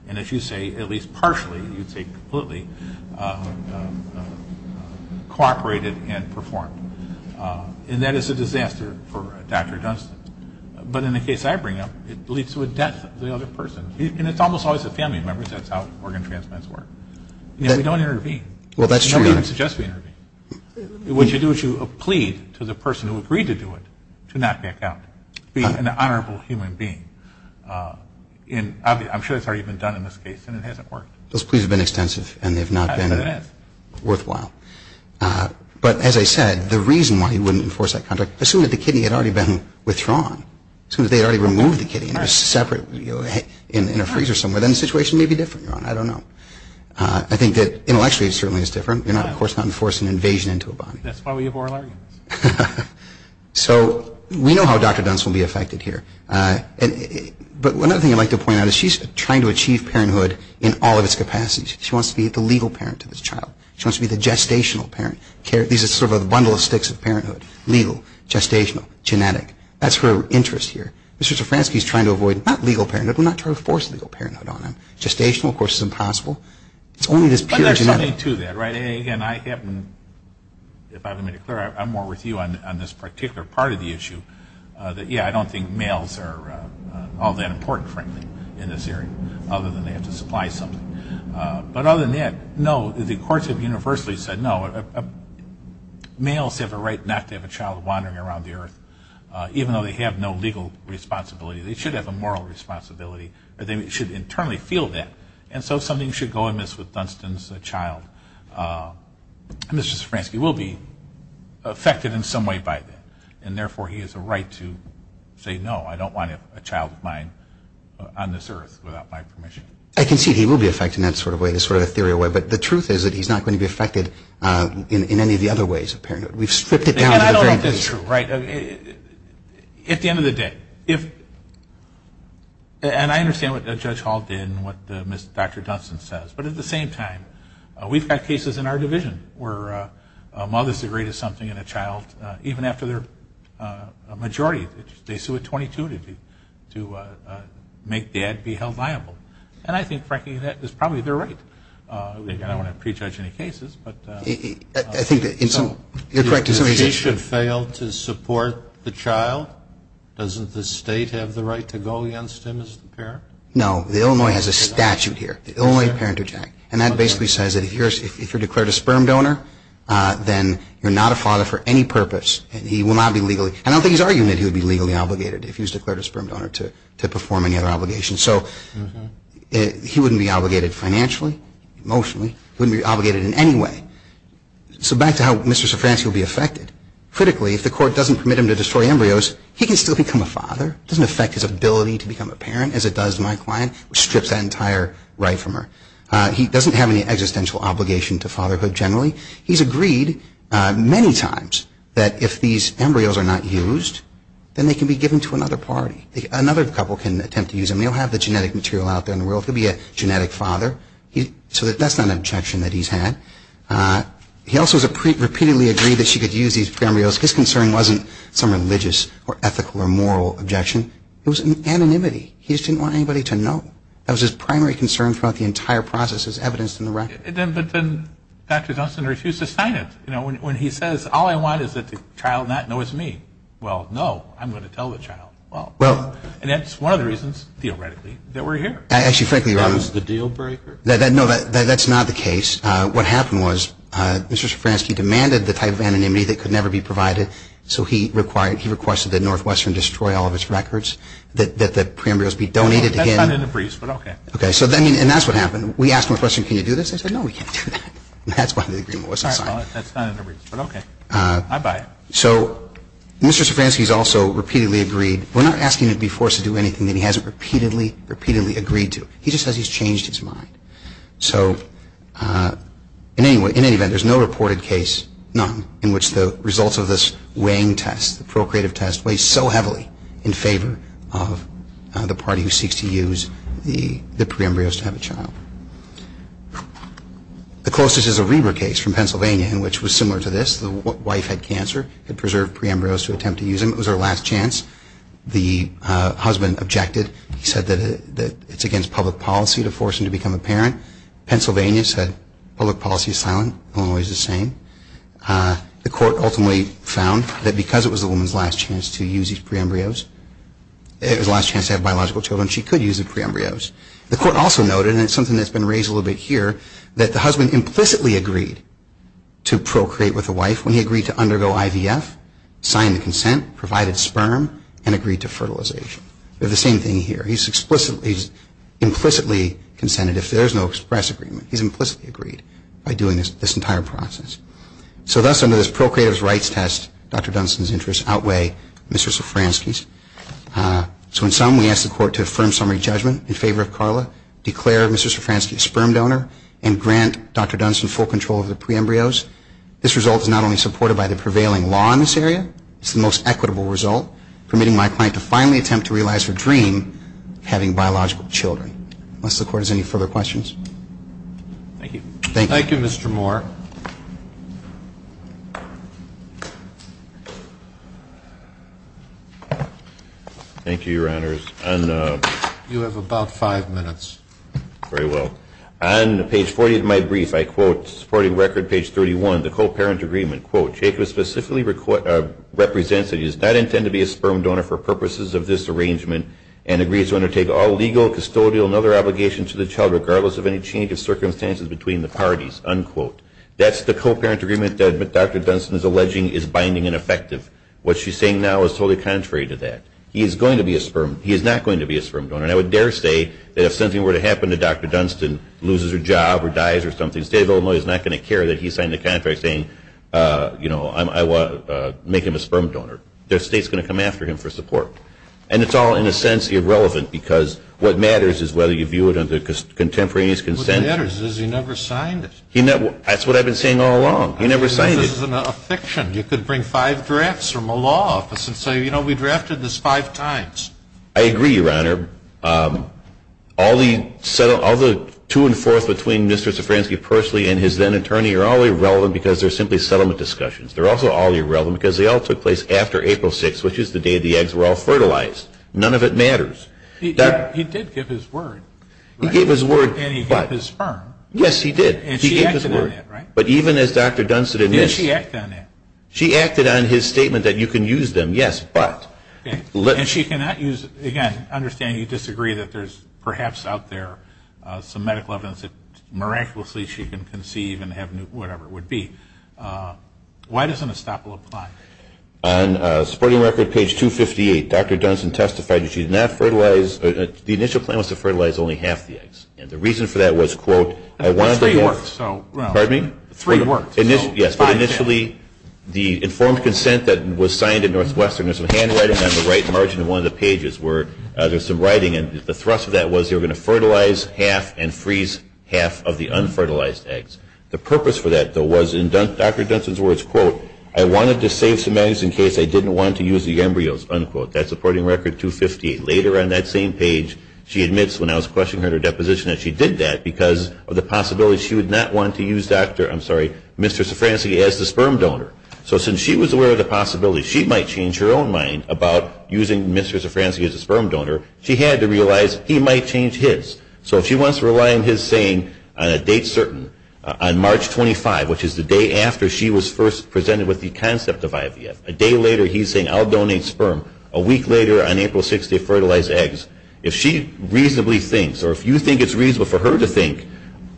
And as you say, at least partially, you'd say completely, cooperated and performed. And that is a disaster for Dr. Dunstan. But in the case I bring up, it leads to a death of the other person. And it's almost always the family members. That's how organ transplants work. We don't intervene. Nobody even suggests we intervene. What you do is you plead to the person who agreed to do it to not back out, be an honorable human being. And I'm sure it's already been done in this case, and it hasn't worked. Those pleas have been extensive, and they've not been worthwhile. But as I said, the reason why he wouldn't enforce that contract, assuming that the kidney had already been withdrawn, assuming that they had already removed the kidney in a separate – in a freezer somewhere, then the situation may be different, Your Honor. I don't know. I think that intellectually it certainly is different. You're not, of course, not enforcing invasion into a body. That's why we have oral arguments. So we know how Dr. Dunstan will be affected here. But one other thing I'd like to point out is she's trying to achieve parenthood in all of its capacities. She wants to be the legal parent to this child. She wants to be the gestational parent. These are sort of a bundle of sticks of parenthood. Legal, gestational, genetic. That's her interest here. Mr. Szafranski is trying to avoid not legal parenthood. We're not trying to force legal parenthood on him. Gestational, of course, is impossible. It's only this pure genetic. But there's something to that, right? Yeah, I don't think males are all that important, frankly, in this area, other than they have to supply something. But other than that, no, the courts have universally said no. Males have a right not to have a child wandering around the earth, even though they have no legal responsibility. They should have a moral responsibility. They should internally feel that. And so something should go amiss with Dunstan's child. Mr. Szafranski will be affected in some way by that. And, therefore, he has a right to say, no, I don't want a child of mine on this earth without my permission. I concede he will be affected in that sort of way, this sort of ethereal way. But the truth is that he's not going to be affected in any of the other ways of parenthood. We've stripped it down to the very least. And I don't know if that's true, right? At the end of the day, if – and I understand what Judge Hall did and what Dr. Dunstan says. But at the same time, we've got cases in our division where mothers agree to something in a child, even after they're a majority. They sue at 22 to make Dad be held liable. And I think, frankly, that is probably their right. I don't want to prejudge any cases. I think that in some – you're correct in some ways. If he should fail to support the child, doesn't the state have the right to go against him as the parent? No. The Illinois has a statute here, the Illinois Parent-to-Child. And that basically says that if you're declared a sperm donor, then you're not a father for any purpose. And he will not be legally – and I don't think he's arguing that he would be legally obligated if he was declared a sperm donor to perform any other obligation. So he wouldn't be obligated financially, emotionally. He wouldn't be obligated in any way. So back to how Mr. Sofransky will be affected. Critically, if the court doesn't permit him to destroy embryos, he can still become a father. It doesn't affect his ability to become a parent as it does my client, which strips that entire right from her. He doesn't have any existential obligation to fatherhood generally. He's agreed many times that if these embryos are not used, then they can be given to another party. Another couple can attempt to use them. They don't have the genetic material out there in the world. He'll be a genetic father. So that's not an objection that he's had. He also has repeatedly agreed that she could use these embryos. His concern wasn't some religious or ethical or moral objection. It was an anonymity. He just didn't want anybody to know. That was his primary concern throughout the entire process as evidenced in the record. But then Dr. Dunstan refused to sign it. You know, when he says, all I want is that the child not know it's me. Well, no, I'm going to tell the child. Well, and that's one of the reasons, theoretically, that we're here. Actually, frankly, Your Honor. That was the deal breaker? No, that's not the case. What happened was Mr. Sofransky demanded the type of anonymity that could never be provided, so he requested that Northwestern destroy all of its records, that the pre-embryos be donated to him. That's not in the briefs, but okay. Okay. And that's what happened. We asked Northwestern, can you do this? They said, no, we can't do that. That's why the agreement wasn't signed. Sorry about that. That's not in the briefs, but okay. I buy it. So Mr. Sofransky has also repeatedly agreed. We're not asking him to be forced to do anything that he hasn't repeatedly, repeatedly agreed to. He just says he's changed his mind. So in any event, there's no reported case, none, in which the results of this weighing test, the procreative test weighs so heavily in favor of the party who seeks to use the pre-embryos to have a child. The closest is a Reber case from Pennsylvania in which was similar to this. The wife had cancer, had preserved pre-embryos to attempt to use them. It was her last chance. The husband objected. He said that it's against public policy to force him to become a parent. Pennsylvania said public policy is silent. Illinois is the same. The court ultimately found that because it was the woman's last chance to use these pre-embryos, it was her last chance to have biological children, she could use the pre-embryos. The court also noted, and it's something that's been raised a little bit here, that the husband implicitly agreed to procreate with the wife when he agreed to undergo IVF, signed the consent, provided sperm, and agreed to fertilization. We have the same thing here. He's implicitly consented. If there's no express agreement, he's implicitly agreed by doing this entire process. So thus, under this procreator's rights test, Dr. Dunstan's interests outweigh Mr. Sofranski's. So in sum, we ask the court to affirm summary judgment in favor of Carla, declare Mr. Sofranski a sperm donor, and grant Dr. Dunstan full control of the pre-embryos. This result is not only supported by the prevailing law in this area, it's the most equitable result, permitting my client to finally attempt to realize her dream of having biological children. Unless the court has any further questions. Thank you. Thank you, Mr. Moore. Thank you, Your Honors. You have about five minutes. Very well. On page 40 of my brief, I quote, supporting record page 31, the co-parent agreement, quote, Jacob specifically represents that he does not intend to be a sperm donor for purposes of this arrangement and agrees to undertake all legal, custodial, and other obligations to the child regardless of any change of circumstances between the parties, unquote. That's the co-parent agreement that Dr. Dunstan is alleging is binding and effective. What she's saying now is totally contrary to that. He is going to be a sperm. He is not going to be a sperm donor. And I would dare say that if something were to happen to Dr. Dunstan, loses her job or dies or something, the state of Illinois is not going to care that he signed the contract saying, you know, I want to make him a sperm donor. Their state's going to come after him for support. And it's all, in a sense, irrelevant because what matters is whether you view it under contemporaneous consent. What matters is he never signed it. That's what I've been saying all along. He never signed it. This is a fiction. You could bring five drafts from a law office and say, you know, we drafted this five times. I agree, Your Honor. All the two and fours between Mr. Sofranski personally and his then-attorney are all irrelevant because they're simply settlement discussions. They're also all irrelevant because they all took place after April 6th, which is the day the eggs were all fertilized. None of it matters. He did give his word. He gave his word, but. And he gave his sperm. Yes, he did. And she acted on that, right? But even as Dr. Dunstan admits. Did she act on that? She acted on his statement that you can use them, yes, but. And she cannot use, again, I understand you disagree that there's perhaps out there some medical evidence that miraculously she can conceive and have whatever it would be. Why does an estoppel apply? On supporting record page 258, Dr. Dunstan testified that she did not fertilize, the initial plan was to fertilize only half the eggs. And the reason for that was, quote, I wanted to. Three worked, so. Pardon me? Three worked. Yes, but initially the informed consent that was signed in Northwestern, there's some handwriting on the right margin of one of the pages where there's some writing and the thrust of that was they were going to fertilize half and freeze half of the unfertilized eggs. The purpose for that, though, was in Dr. Dunstan's words, quote, I wanted to save some eggs in case I didn't want to use the embryos, unquote. That's supporting record 258. Later on that same page, she admits, when I was questioning her in her deposition, that she did that because of the possibility she would not want to use Dr., I'm sorry, Mr. Szafranski as the sperm donor. So since she was aware of the possibility she might change her own mind about using Mr. Szafranski as a sperm donor, she had to realize he might change his. So if she wants to rely on his saying on a date certain, on March 25, which is the day after she was first presented with the concept of IVF, a day later he's saying I'll donate sperm. A week later, on April 6, they fertilize eggs. If she reasonably thinks or if you think it's reasonable for her to think,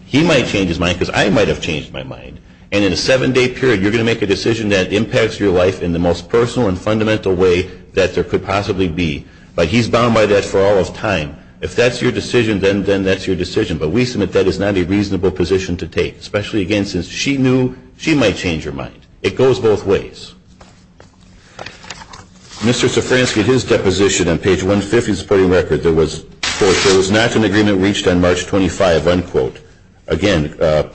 he might change his mind because I might have changed my mind. And in a seven-day period, you're going to make a decision that impacts your life in the most personal and fundamental way that there could possibly be. But he's bound by that for all of time. If that's your decision, then that's your decision. But we submit that is not a reasonable position to take, especially again since she knew she might change her mind. It goes both ways. Mr. Szafranski, his deposition on page 150 of the supporting record, there was, quote, there was not an agreement reached on March 25, unquote. Again,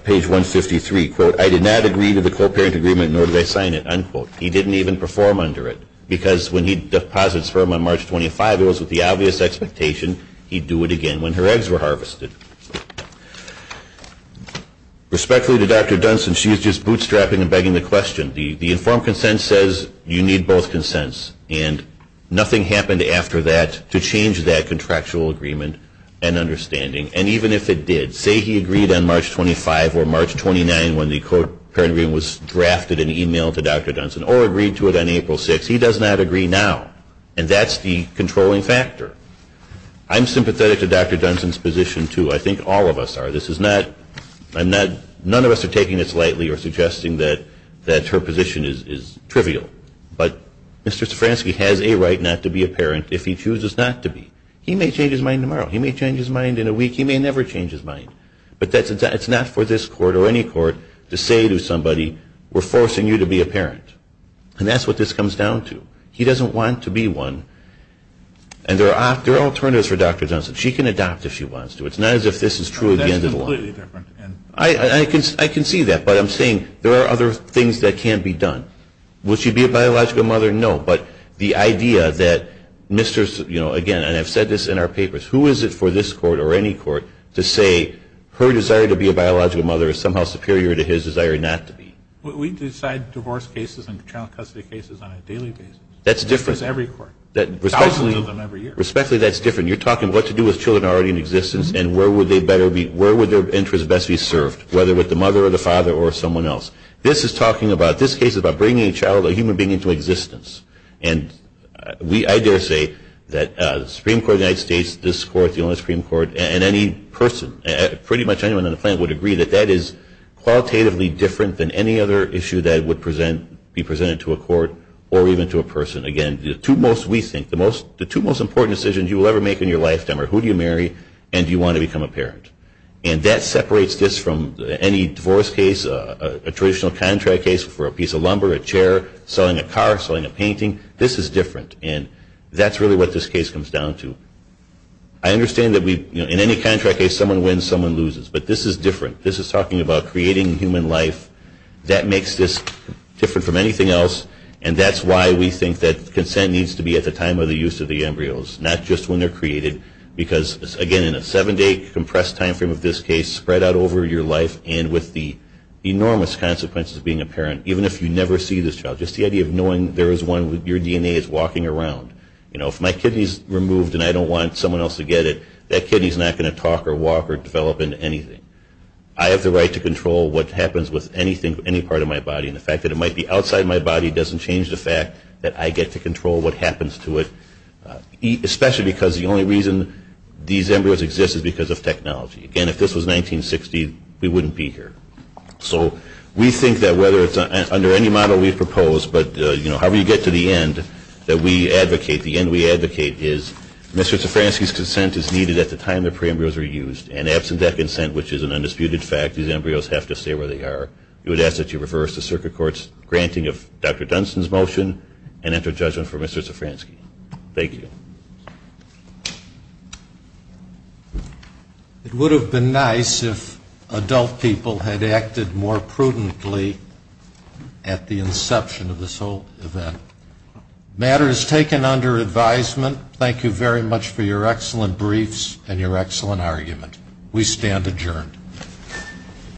page 153, quote, I did not agree to the co-parent agreement, nor did I sign it, unquote. He didn't even perform under it because when he deposits sperm on March 25, it was with the obvious expectation he'd do it again when her eggs were harvested. Respectfully to Dr. Dunson, she is just bootstrapping and begging the question. The informed consent says you need both consents. And nothing happened after that to change that contractual agreement and understanding. And even if it did, say he agreed on March 25 or March 29 when the co-parent agreement was drafted and emailed to Dr. Dunson or agreed to it on April 6, he does not agree now. And that's the controlling factor. I'm sympathetic to Dr. Dunson's position, too. I think all of us are. None of us are taking this lightly or suggesting that her position is trivial. But Mr. Szafranski has a right not to be a parent if he chooses not to be. He may change his mind tomorrow. He may change his mind in a week. He may never change his mind. But it's not for this court or any court to say to somebody, we're forcing you to be a parent. And that's what this comes down to. He doesn't want to be one. And there are alternatives for Dr. Dunson. She can adopt if she wants to. It's not as if this is true at the end of the line. That's completely different. I can see that. But I'm saying there are other things that can be done. Would she be a biological mother? No. But the idea that Mr. Szafranski, again, and I've said this in our papers, who is it for this court or any court to say her desire to be a biological mother is somehow superior to his desire not to be? We decide divorce cases and child custody cases on a daily basis. That's different. That's every court. Thousands of them every year. Respectfully, that's different. You're talking what to do with children already in existence and where would their interest best be served, whether with the mother or the father or someone else. This case is about bringing a child, a human being, into existence. And I dare say that the Supreme Court of the United States, this court, the only Supreme Court, and any person, pretty much anyone on the planet, would agree that that is qualitatively different than any other issue that would be presented to a court or even to a person. Again, the two most important decisions you will ever make in your lifetime are who do you marry and do you want to become a parent. And that separates this from any divorce case, a traditional contract case for a piece of lumber, a chair, selling a car, selling a painting. This is different. And that's really what this case comes down to. I understand that in any contract case someone wins, someone loses. But this is different. This is talking about creating human life. That makes this different from anything else. And that's why we think that consent needs to be at the time of the use of the embryos, not just when they're created. Because, again, in a seven-day compressed time frame of this case, spread out over your life and with the enormous consequences of being a parent, even if you never see this child, just the idea of knowing there is one, your DNA is walking around. You know, if my kidney is removed and I don't want someone else to get it, that kidney is not going to talk or walk or develop into anything. I have the right to control what happens with anything, any part of my body. And the fact that it might be outside my body doesn't change the fact that I get to control what happens to it, especially because the only reason these embryos exist is because of technology. Again, if this was 1960, we wouldn't be here. So we think that whether it's under any model we propose, but, you know, however you get to the end that we advocate, the end we advocate is Mr. needed at the time the pre-embryos were used. And absent that consent, which is an undisputed fact, these embryos have to stay where they are. We would ask that you reverse the Circuit Court's granting of Dr. Dunson's motion and enter judgment for Mr. Zafransky. Thank you. It would have been nice if adult people had acted more prudently at the inception of this whole event. The matter is taken under advisement. Thank you very much for your excellent briefs and your excellent argument. We stand adjourned.